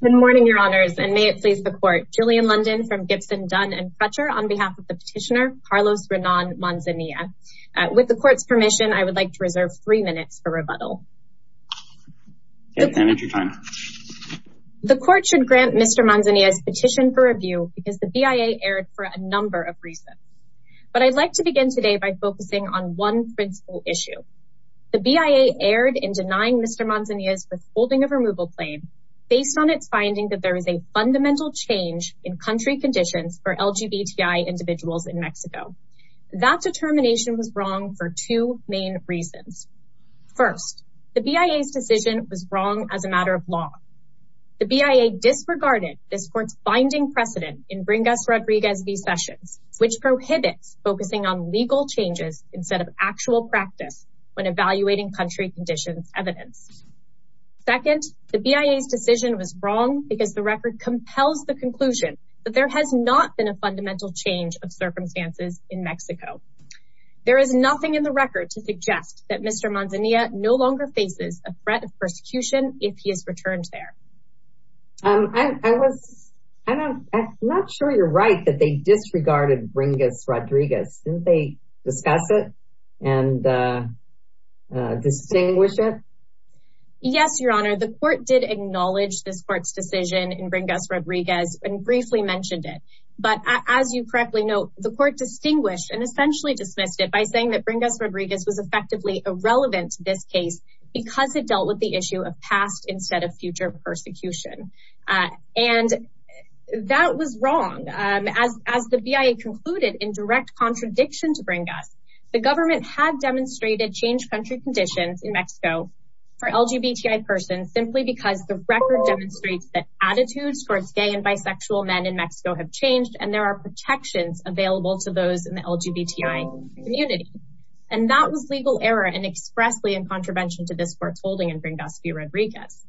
Good morning your honors and may it please the court. Julian London from Gibson, Dunn & Crutcher on behalf of the petitioner Carlos Renan Manzanilla. With the court's permission I would like to reserve three minutes for rebuttal. The court should grant Mr. Manzanilla's petition for review because the BIA erred for a number of reasons. But I'd like to begin today by focusing on one principal issue. The BIA erred in denying Mr. Manzanilla's withholding of removal claim based on its finding that there is a fundamental change in country conditions for LGBTI individuals in Mexico. That determination was wrong for two main reasons. First the BIA's decision was wrong as a matter of law. The BIA disregarded this court's binding precedent in Bringas Rodriguez v. Sessions which prohibits focusing on legal changes instead of actual practice when evaluating country conditions evidence. Second the BIA's decision was wrong because the record compels the conclusion that there has not been a fundamental change of circumstances in Mexico. There is nothing in the record to suggest that Mr. Manzanilla no longer faces a threat of persecution if he is returned there. I'm not sure you're right that they disregarded Bringas Rodriguez. Didn't they discuss it and distinguish it? Yes your honor the court did acknowledge this court's decision in Bringas Rodriguez and briefly mentioned it. But as you correctly note the court distinguished and essentially dismissed it by saying that Bringas Rodriguez was effectively irrelevant to this case because it dealt with the issue of past instead of future persecution. And that was wrong as the BIA concluded in direct contradiction to Bringas. The government had demonstrated changed country conditions in Mexico for LGBTI persons simply because the record demonstrates that attitudes towards gay and bisexual men in Mexico have changed and there are protections available to those in the LGBTI community. And that was legal error and expressly in contravention to this court's holding in Bringas v. Rodriguez.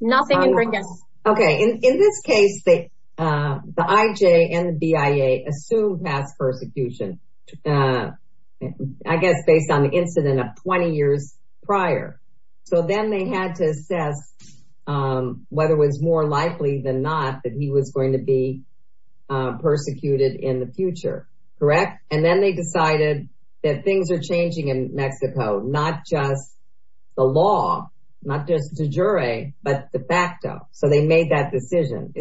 Nothing in Bringas. Okay in this case the IJ and the BIA assumed past persecution I guess based on the incident of 20 years prior. So then they had to assess whether it was more likely than not that he was going to be persecuted in the future. Correct? And then they decided that things are changing in Mexico not just the law not just the jury but de facto. So they made that decision.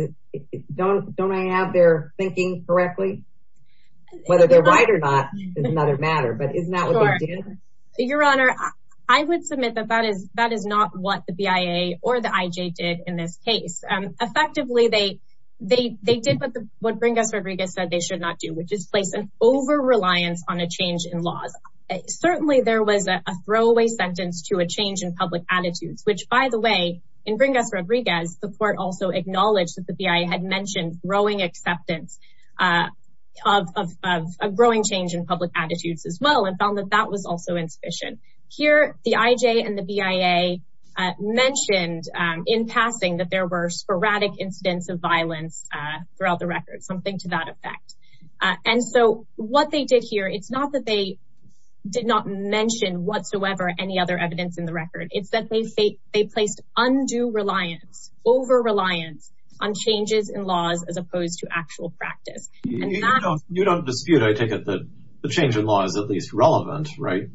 Don't I have their thinking correctly? Whether they're right or not is another matter. But isn't that what they did? Your Honor I would submit that that is that is not what the BIA or the IJ did in this case. Effectively they did what Bringas Rodriguez said they should not do which is place an over reliance on a change in laws. Certainly there was a throwaway sentence to a change in public attitudes which by the way in Bringas Rodriguez the court also acknowledged that the BIA had mentioned growing acceptance of a growing change in public attitudes as well and found that that was also insufficient. Here the IJ and the BIA mentioned in passing that there were sporadic incidents of violence throughout the record. Something to that effect. And so what they did here it's not that they did not mention whatsoever any other evidence in the record. It's that they say they placed undue reliance over reliance on changes in laws as opposed to actual practice. You don't dispute I take it that the change in law is at least relevant right?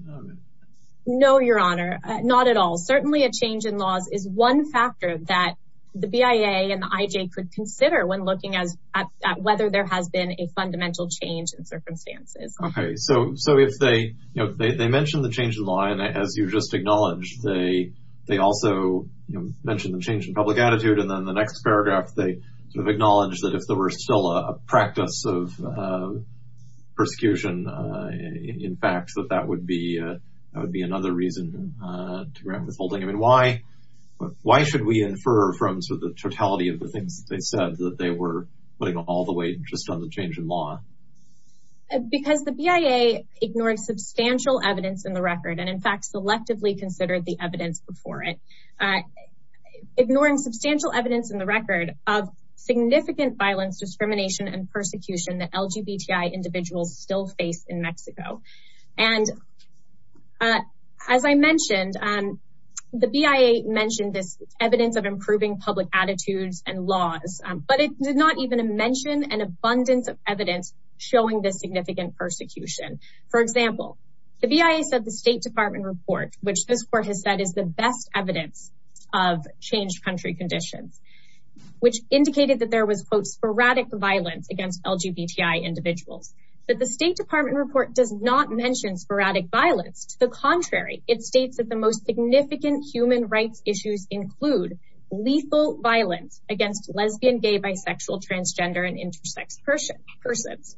No Your Honor not at all. Certainly a change in laws is one factor that the BIA and the IJ could consider when looking at whether there has been a fundamental change in circumstances. Okay so so if they you know they mentioned the change in law and as you just acknowledged they they also mentioned the change in public attitude and then the next paragraph they sort of acknowledged that if there were still a practice of persecution in fact that that would be that would be another reason to grant withholding. I mean why why should we infer from sort of the totality of the things they said that they were putting all the weight just on the change in law? Because the substantial evidence in the record and in fact selectively considered the evidence before it. Ignoring substantial evidence in the record of significant violence discrimination and persecution that LGBTI individuals still face in Mexico. And as I mentioned the BIA mentioned this evidence of improving public attitudes and laws but it did not even mention an abundance of evidence showing this significant persecution. For example the BIA said the State Department report which this court has said is the best evidence of changed country conditions which indicated that there was quote sporadic violence against LGBTI individuals. But the State Department report does not mention sporadic violence to the contrary it states that the most significant human rights issues include lethal violence against lesbian, gay, bisexual, transgender and intersex persons.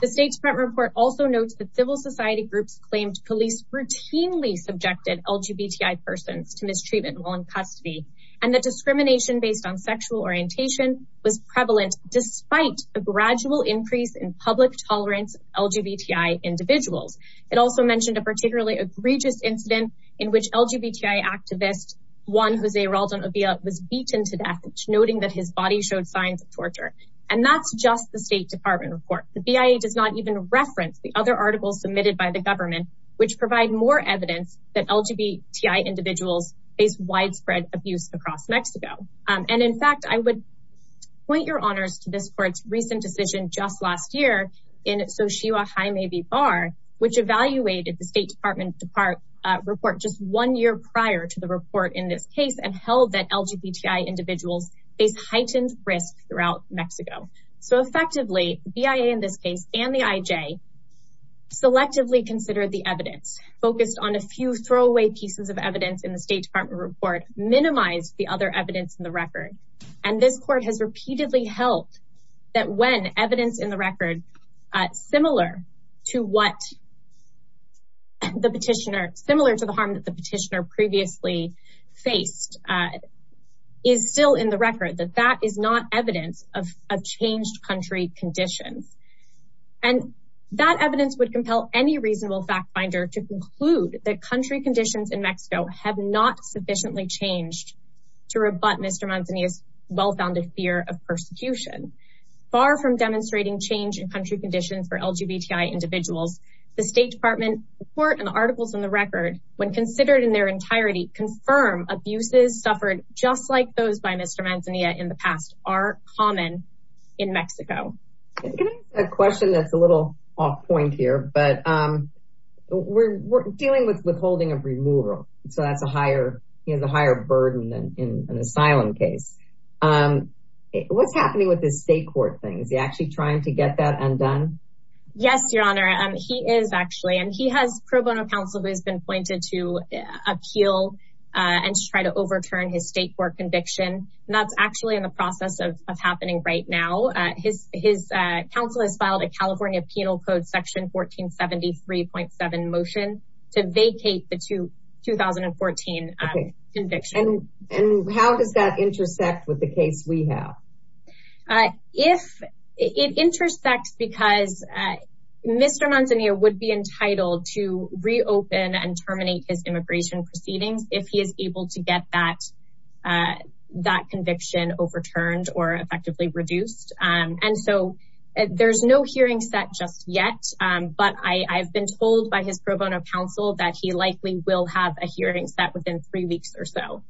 The state's front report also notes that civil society groups claimed police routinely subjected LGBTI persons to mistreatment while in custody and the discrimination based on sexual orientation was prevalent despite a gradual increase in public tolerance LGBTI individuals. It also mentioned a particularly egregious incident in which LGBTI activist Juan Jose Raldon Obia was beaten to death noting that his body showed signs of abuse. And that's just the State Department report. The BIA does not even reference the other articles submitted by the government which provide more evidence that LGBTI individuals face widespread abuse across Mexico. And in fact I would point your honors to this court's recent decision just last year in Xochitl Jaime V. Barr which evaluated the State Department report just one year prior to the report in this case and held that LGBTI individuals face heightened risk throughout Mexico. So effectively BIA in this case and the IJ selectively considered the evidence focused on a few throwaway pieces of evidence in the State Department report minimized the other evidence in the record. And this court has repeatedly held that when evidence in the record similar to what the petitioner similar to the harm that petitioner previously faced is still in the record that that is not evidence of a changed country conditions. And that evidence would compel any reasonable fact-finder to conclude that country conditions in Mexico have not sufficiently changed to rebut Mr. Manzanilla's well-founded fear of persecution. Far from demonstrating change in country conditions for LGBTI individuals the State Department report and articles in the record when considered in their entirety confirm abuses suffered just like those by Mr. Manzanilla in the past are common in Mexico. A question that's a little off point here but we're dealing with withholding of removal so that's a higher you know the higher burden in an asylum case. What's happening with this state court thing is he actually trying to get that undone? Yes your honor and he is actually and he has pro bono counsel who has been pointed to appeal and try to overturn his state court conviction and that's actually in the process of happening right now. His counsel has filed a California Penal Code section 1473.7 motion to vacate the 2014 conviction. And how does that intersect with the case we have? If it intersects because Mr. Manzanilla would be entitled to reopen and terminate his immigration proceedings if he is able to get that that conviction overturned or effectively reduced. And so there's no hearing set just yet but I've been told by his pro bono counsel that he likely will have a hearing set within three weeks or so.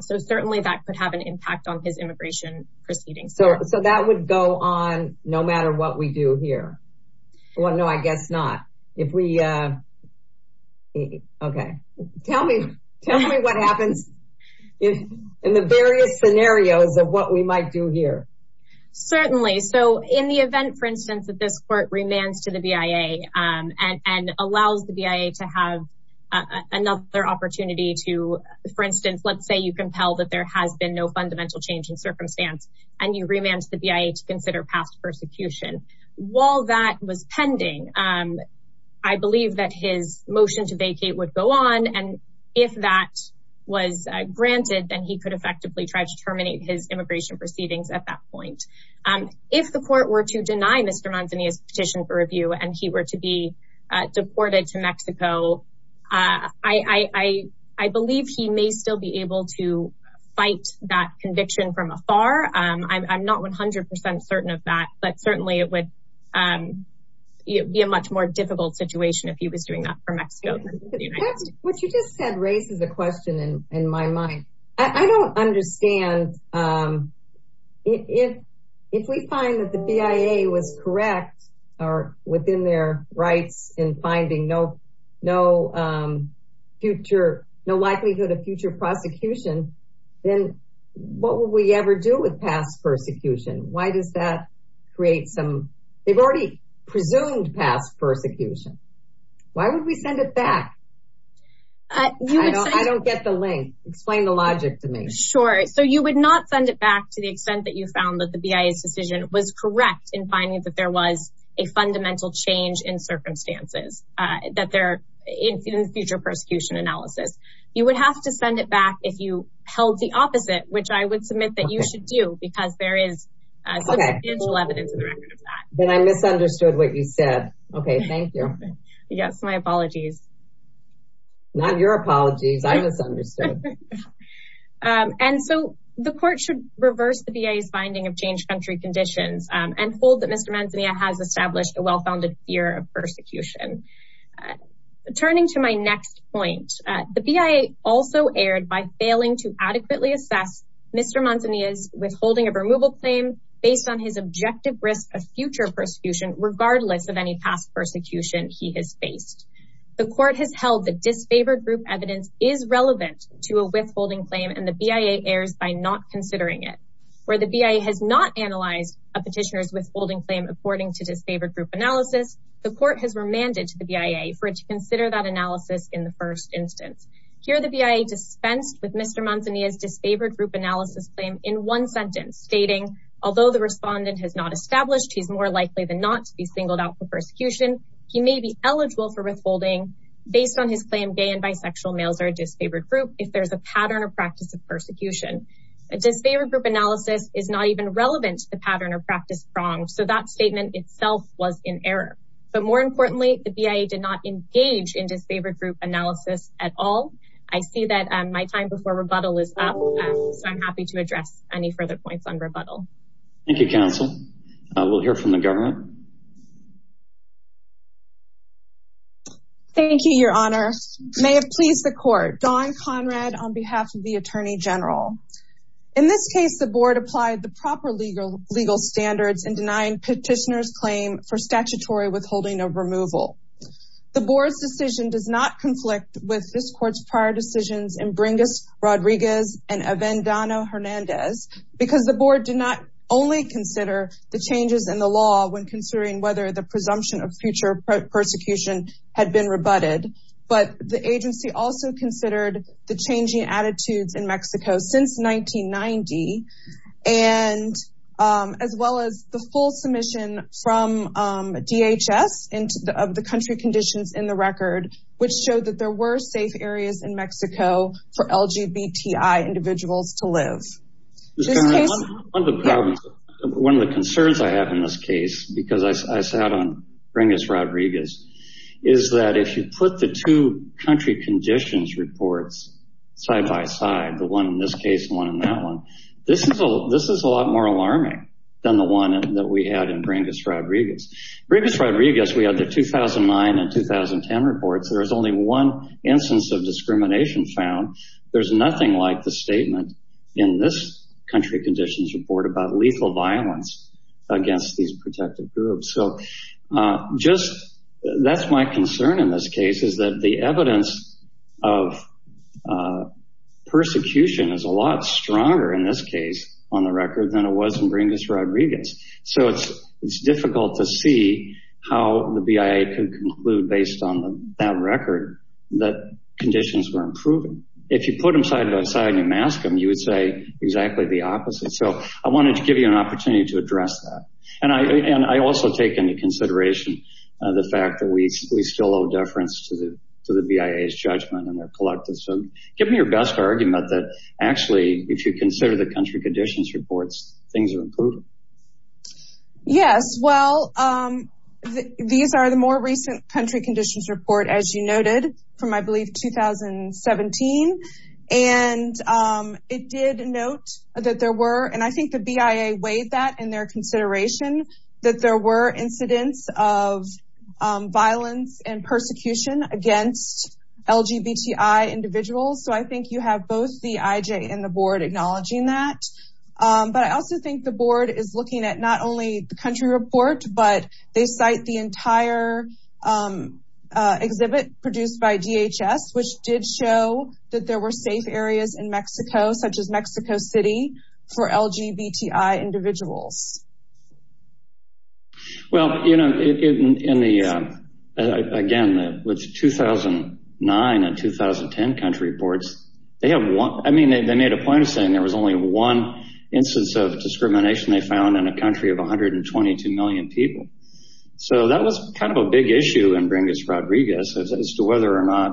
So certainly that could have an impact on his immigration proceedings. So that would go on no matter what we do here. Well no I guess not. If we okay tell me tell me what happens in the various scenarios of what we might do here. Certainly so in the event for instance that this court remands to the BIA and and allows the BIA to have another opportunity to for instance let's say you compel that there has been no fundamental change in circumstance and you remand the BIA to consider past persecution. While that was pending I believe that his motion to vacate would go on and if that was granted then he could effectively try to terminate his immigration proceedings at that point. If the court were to deny Mr. Manzanilla's petition for review and he were to be deported to Mexico I believe he may still be able to fight that conviction from afar. I'm not 100% certain of that but certainly it would be a much more difficult situation if he was doing that for Mexico. What you just said raises a question in my mind. I don't understand if if we find that the BIA was correct or within their rights in finding no no future no likelihood of future prosecution then what would we ever do with past persecution? Why does that create some they've already presumed past persecution. Why would we send it back? I don't get the link. Explain the logic to me. Sure so you would not send it back to the extent that you found that the BIA's decision was correct in finding that there was a fundamental change in circumstances that they're in the future persecution analysis. You would have to send it back if you held the opposite which I would submit that you should do because there is evidence. I misunderstood what you said. Okay thank you. Yes my apologies. Not your apologies I misunderstood. And so the court should reverse the BIA's finding of changed country conditions and hold that Mr. Manzanilla has established a well-founded fear of persecution. Turning to my next point the BIA also erred by failing to adequately assess Mr. Manzanilla's withholding of removal claim based on his objective risk of future persecution regardless of any past persecution he has faced. The court has held the disfavored group evidence is relevant to a withholding claim and the BIA errs by not considering it. Where the BIA has not analyzed a petitioner's withholding claim according to disfavored group analysis the court has remanded to the BIA for it to consider that analysis in the first instance. Here the BIA dispensed with Mr. Manzanilla's disfavored group analysis claim in one sentence stating although the respondent has not established he's more likely than not to be singled out for persecution he may be eligible for withholding based on his claim gay and bisexual males are a disfavored group if there's a pattern or practice of persecution. A disfavored group analysis is not even relevant to the pattern or practice wrong so that statement itself was in error. But more importantly the BIA did not engage in disfavored group analysis at all. I see that my time before rebuttal is up so I'm happy to address any further points on rebuttal. Thank you counsel. We'll hear from the government. Thank you your honor. May it please the court. Dawn Conrad on behalf of the Attorney General. In this case the board applied the proper legal standards in denying petitioners claim for statutory withholding of removal. The board's decision does not conflict with this court's prior decisions in Bringas Rodriguez and Avendano Hernandez because the board did not only consider the changes in the law when considering whether the presumption of future persecution had been rebutted but the agency also considered the changing as well as the full submission from DHS into the country conditions in the record which showed that there were safe areas in Mexico for LGBTI individuals to live. One of the concerns I have in this case because I sat on Bringas Rodriguez is that if you put the two country conditions reports side-by-side the one than the one that we had in Bringas Rodriguez. Bringas Rodriguez we had the 2009 and 2010 reports there was only one instance of discrimination found. There's nothing like the statement in this country conditions report about lethal violence against these protected groups. So just that's my concern in this case is that the evidence of persecution is a lot stronger in this case on the record than it was in Bringas Rodriguez. So it's it's difficult to see how the BIA could conclude based on that record that conditions were improving. If you put them side-by-side and you mask them you would say exactly the opposite. So I wanted to give you an opportunity to address that and I and I also take into consideration the fact that we still owe deference to the BIA's judgment and their collective. So give me your best argument that actually if you put these reports things are improving. Yes, well these are the more recent country conditions report as you noted from I believe 2017 and it did note that there were and I think the BIA weighed that in their consideration that there were incidents of violence and persecution against LGBTI individuals. So I think you have both the IJ and the board acknowledging that but I also think the board is looking at not only the country report but they cite the entire exhibit produced by DHS which did show that there were safe areas in Mexico such as Mexico City for LGBTI individuals. Well you know in the again with 2009 and 2010 country reports they have one I mean they made a point of saying there was only one instance of discrimination they found in a country of a hundred and twenty two million people. So that was kind of a big issue in Brindis Rodriguez as to whether or not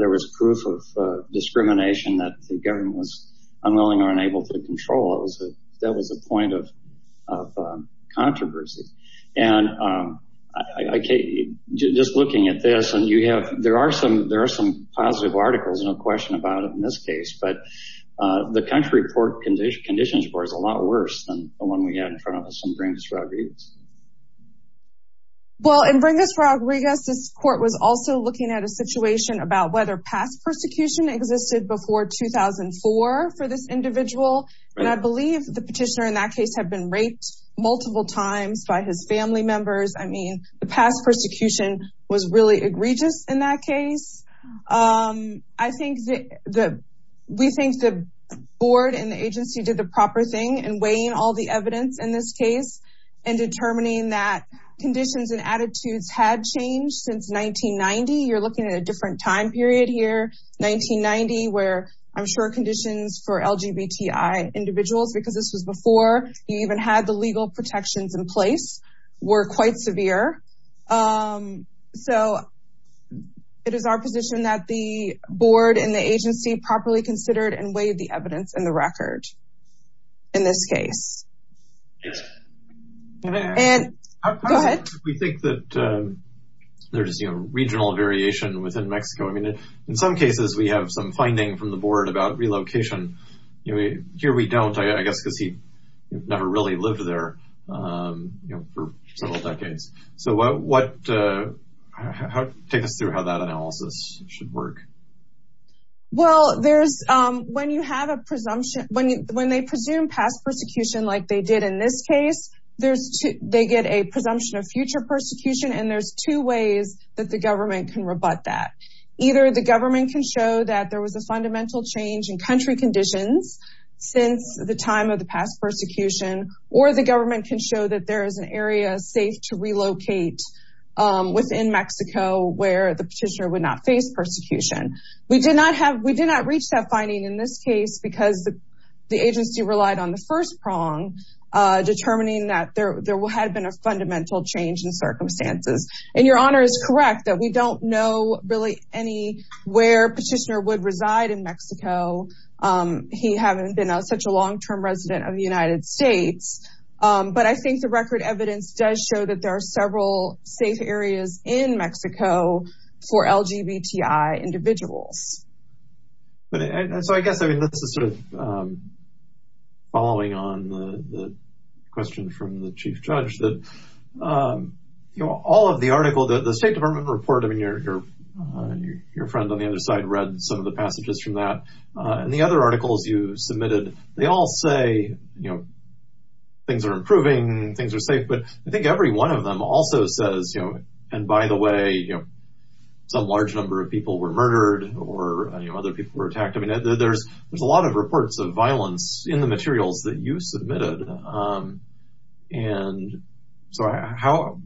there was proof of discrimination that the government was unwilling or unable to control. That was a point of controversy and I can't just looking at this and you have there are some there are some positive articles no question about it in this case but the country report condition conditions for is a lot worse than the one we had in front of us in Brindis Rodriguez. Well in Brindis Rodriguez this court was also looking at a situation about whether past persecution existed before 2004 for this individual and I believe the petitioner in that case have been raped multiple times by his family members. I mean the past persecution was really egregious in that case. I think that we think the board and the agency did the proper thing and weighing all the evidence in this case and determining that conditions and attitudes had changed since 1990. You're looking at a individuals because this was before you even had the legal protections in place were quite severe. So it is our position that the board and the agency properly considered and weighed the evidence in the record in this case. We think that there's a regional variation within Mexico. I mean in some cases we have some here we don't I guess because he never really lived there for several decades. So what take us through how that analysis should work. Well there's when you have a presumption when you when they presume past persecution like they did in this case there's they get a presumption of future persecution and there's two ways that the government can rebut that. Either the government can show that there was a fundamental change in country conditions since the time of the past persecution or the government can show that there is an area safe to relocate within Mexico where the petitioner would not face persecution. We did not have we did not reach that finding in this case because the agency relied on the first prong determining that there will had been a fundamental change in circumstances and your honor is correct that we don't know really any where petitioner would reside in Mexico. He haven't been such a long-term resident of the United States but I think the record evidence does show that there are several safe areas in Mexico for LGBTI individuals. So I guess I mean this is sort of following on the question from the chief judge that you know all of the article that the State Department report I mean you're your friend on the other side read some of the passages from that and the other articles you submitted they all say you know things are improving things are safe but I think every one of them also says you know and by the way you know some large number of people were murdered or you know other people were attacked I mean there's there's a lot of reports of violence in the materials that you submitted and so how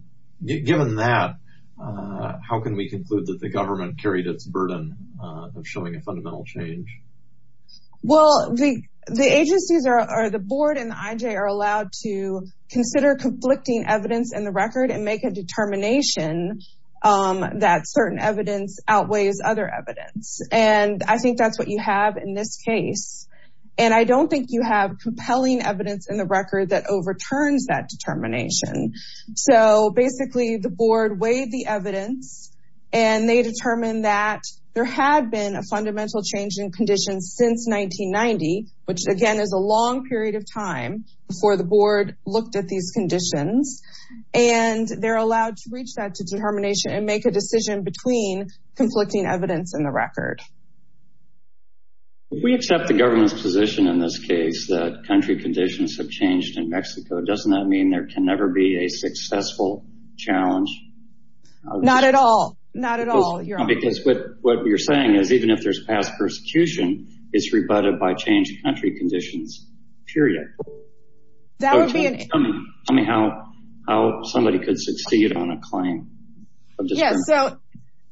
given that how can we conclude that the government carried its burden of showing a fundamental change? Well the the agencies are the board and the IJ are allowed to consider conflicting evidence in the record and make a determination that certain evidence outweighs other evidence and I think that's what you have in this case and I don't think you have compelling evidence in the record that overturns that determination. So basically the board weighed the evidence and they determined that there had been a fundamental change in conditions since 1990 which again is a long period of time before the board looked at these conditions and they're allowed to reach that to determination and make a decision between conflicting evidence in the record. If we accept the government's position in this case that country conditions have changed in Mexico doesn't that mean there can never be a successful challenge? Not at all not at all. Because what what you're saying is even if there's past persecution it's rebutted by changed country conditions period. Tell me how somebody could succeed on a claim? Yes so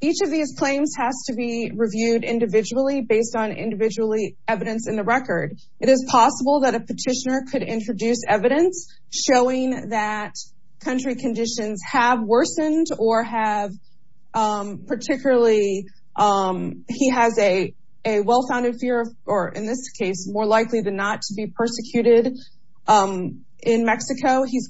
each of these claims has to be reviewed individually based on individually evidence in the record. It is possible that a petitioner could introduce evidence showing that country conditions have worsened or have particularly he has a a well-founded fear or in this case more likely than not to be persecuted in Mexico. He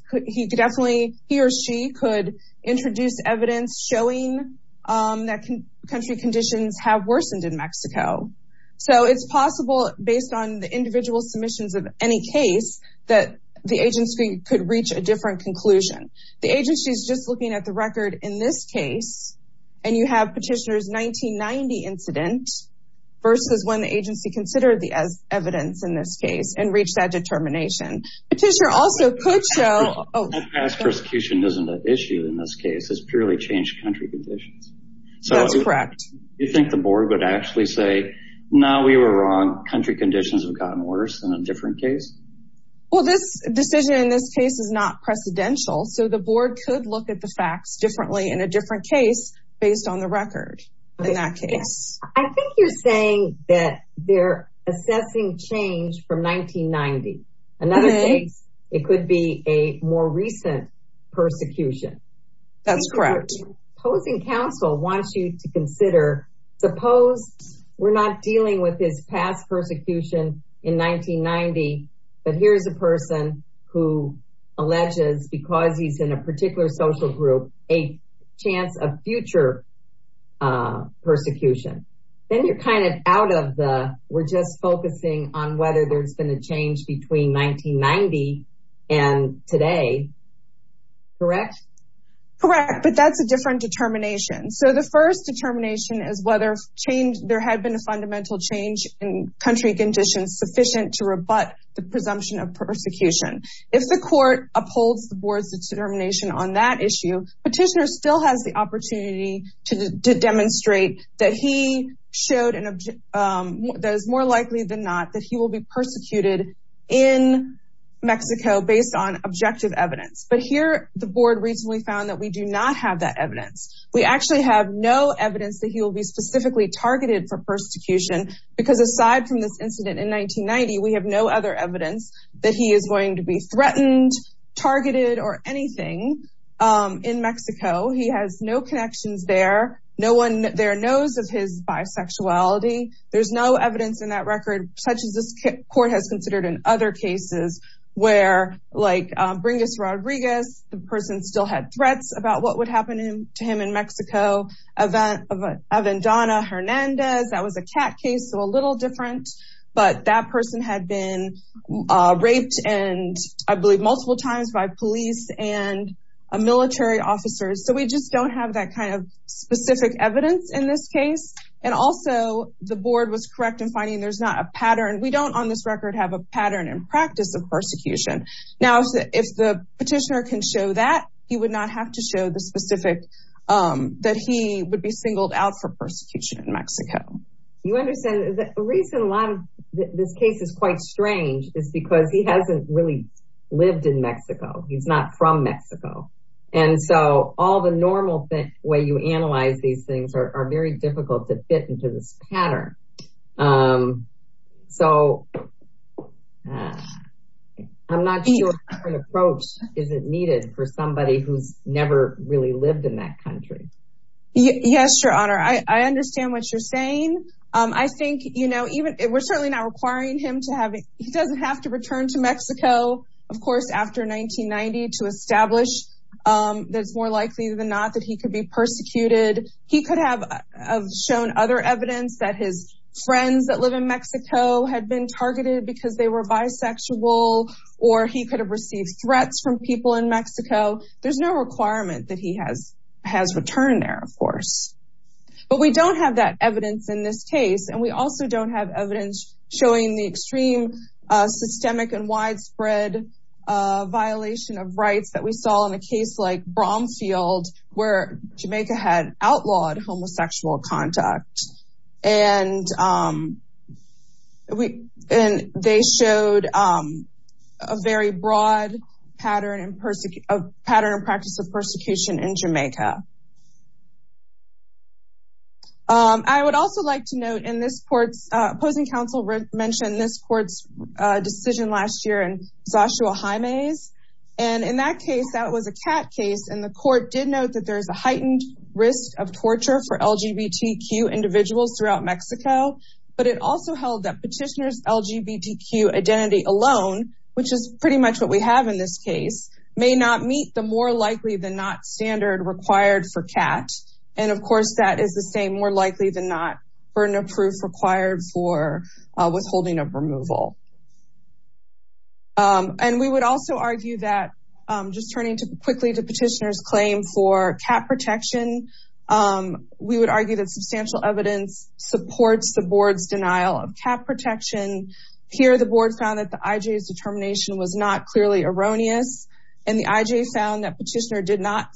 country conditions have worsened in Mexico. So it's possible based on the individual submissions of any case that the agency could reach a different conclusion. The agency is just looking at the record in this case and you have petitioners 1990 incident versus when the agency considered the as evidence in this case and reached that determination. Petitioner also could show oh persecution isn't an issue in this case it's purely changed country conditions. So that's correct. You think the board would actually say no we were wrong country conditions have gotten worse than a different case? Well this decision in this case is not precedential so the board could look at the facts differently in a different case based on the record in that case. I think you're saying that they're assessing change from 1990 and that it could be a more recent persecution. That's correct. Opposing counsel wants you to consider suppose we're not dealing with this past persecution in 1990 but here's a person who alleges because he's in a particular social group a chance of future persecution. Then you're kind of out of the we're just focusing on whether it's been a change between 1990 and today. Correct? Correct but that's a different determination. So the first determination is whether change there had been a fundamental change in country conditions sufficient to rebut the presumption of persecution. If the court upholds the board's determination on that issue petitioner still has the opportunity to demonstrate that he showed an object that is more likely than not that he will be persecuted in Mexico based on objective evidence. But here the board recently found that we do not have that evidence. We actually have no evidence that he will be specifically targeted for persecution because aside from this incident in 1990 we have no other evidence that he is going to be threatened targeted or anything in sexuality. There's no evidence in that record such as this court has considered in other cases where like Bringus Rodriguez the person still had threats about what would happen to him in Mexico. Aventana Hernandez that was a cat case so a little different but that person had been raped and I believe multiple times by police and military officers. So we just don't have that kind of specific evidence in this case and also the board was correct in finding there's not a pattern we don't on this record have a pattern in practice of persecution. Now if the petitioner can show that he would not have to show the specific that he would be singled out for persecution in Mexico. You understand the reason a lot of this case is quite strange is because he hasn't really lived in Mexico. He's not from Mexico and so all the normal thing way you analyze these things are very difficult to fit into this pattern. So I'm not sure an approach isn't needed for somebody who's never really lived in that country. Yes your honor I understand what you're saying I think you know even it was certainly not requiring him to have it he doesn't have to return to Mexico of course after 1990 to establish that it's more likely than not that he could be persecuted. He could have shown other evidence that his friends that live in Mexico had been targeted because they were bisexual or he could have received threats from people in Mexico. There's no requirement that he has has returned there of course. But we don't have that evidence in this case and we also don't have evidence showing the extreme systemic and widespread violation of rights that we saw in a case like Bromfield where Jamaica had outlawed homosexual conduct and we and they showed a very broad pattern and persecute a pattern and practice of persecution in Jamaica. I would also like to note in this courts opposing counsel mentioned this courts decision last year in Joshua Jaime's and in that case that was a cat case and the court did note that there's a heightened risk of torture for LGBTQ individuals throughout Mexico but it also held that petitioners LGBTQ identity alone which is pretty much what we have in this case may not meet the more likely than not standard required for cat and of course that is the same more likely than not burden of proof required for withholding of removal. And we would also argue that just turning to quickly to petitioners claim for cat protection we would argue that substantial evidence supports the board's denial of cat protection. Here the board found that the IJ's determination was not clearly erroneous and the IJ found that petitioner did not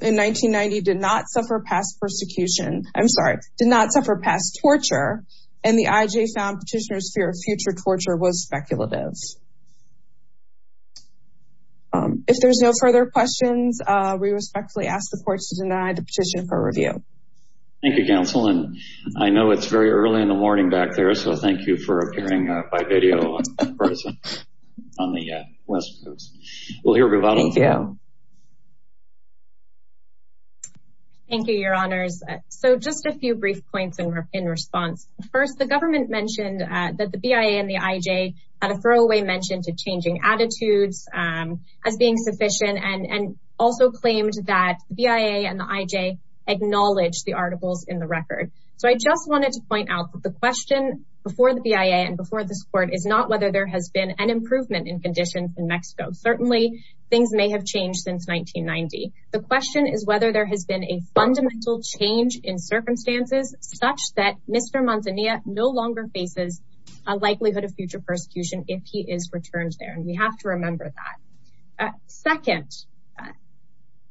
in 1990 did not suffer past persecution I'm sorry did not suffer past torture and the IJ found petitioners fear of future torture was speculative. If there's no further questions we respectfully ask the courts to deny the petition for review. Thank you counsel and I know it's very early in the morning back there so thank you for appearing by video on the West Coast. We'll hear about it. Thank you. Your honors so just a few brief points in response. First the government mentioned that the BIA and the IJ had a throwaway mention to changing attitudes as being sufficient and and also claimed that BIA and the IJ acknowledged the articles in the record. So I just wanted to point out the question before the BIA and before this court is not whether there has been an improvement in conditions in Mexico. Certainly things may have changed since 1990. The question is whether there has been a fundamental change in circumstances such that Mr. Manzanilla no longer faces a likelihood of future persecution if he is returned there and we have to remember that. Second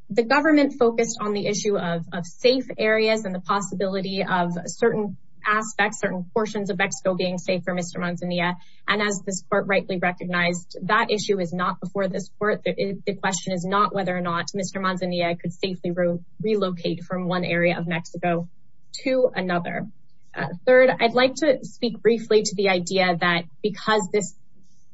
the government focused on the issue of safe areas and the possibility of certain aspects certain portions of Mexico being safe for Mr. Manzanilla and as this court rightly recognized that issue is not before this court. The question is not whether or not Mr. Manzanilla could safely relocate from one area of Mexico to another. Third I'd like to speak briefly to the idea that because this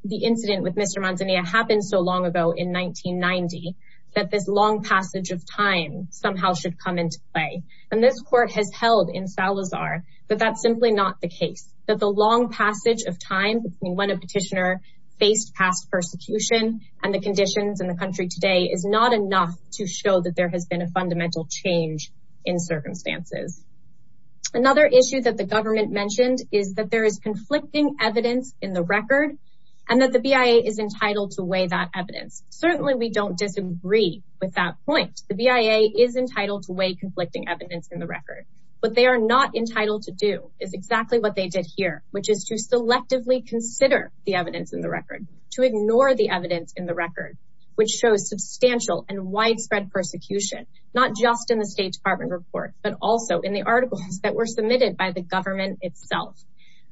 the incident with Mr. Manzanilla happened so long ago in 1990 that this long passage of time somehow should come into play and this court has held in Salazar that that's simply not the case. That the long passage of time when a petitioner faced past persecution and the conditions in the country today is not enough to show that there has been a fundamental change in circumstances. Another issue that the government mentioned is that there is conflicting evidence in the record and that the BIA is entitled to weigh that evidence. Certainly we don't disagree with that point. The BIA is entitled to weigh conflicting evidence in the record but they are not entitled to do is exactly what they did here which is to consider the evidence in the record to ignore the evidence in the record which shows substantial and widespread persecution not just in the State Department report but also in the articles that were submitted by the government itself.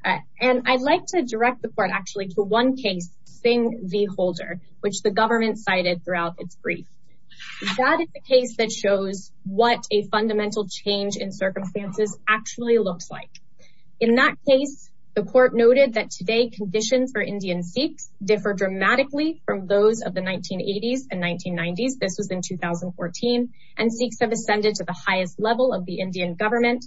And I'd like to direct the court actually to one case Singh v. Holder which the government cited throughout its brief. That is the case that shows what a fundamental change in circumstances actually looks like. In that case the court noted that today conditions for Indian Sikhs differ dramatically from those of the 1980s and 1990s. This was in 2014 and Sikhs have ascended to the highest level of the Indian government.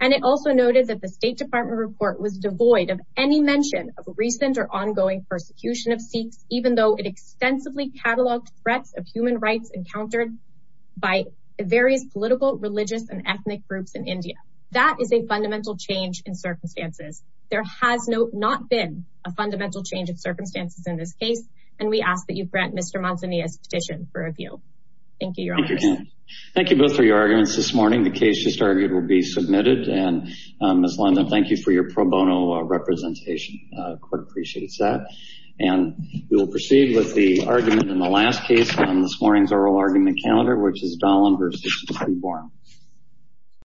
And it also noted that the State Department report was devoid of any mention of recent or ongoing persecution of Sikhs even though it extensively cataloged threats of human rights encountered by various political religious and ethnic groups in India. That is a fundamental change in circumstances. There has not been a fundamental change of circumstances in this case and we ask that you grant Mr. Manzanilla's petition for review. Thank you. Thank you both for your arguments this morning. The case just argued will be submitted and Ms. London thank you for your pro bono representation. The court appreciates that and we will proceed with the argument in the last case on this morning's oral argument calendar which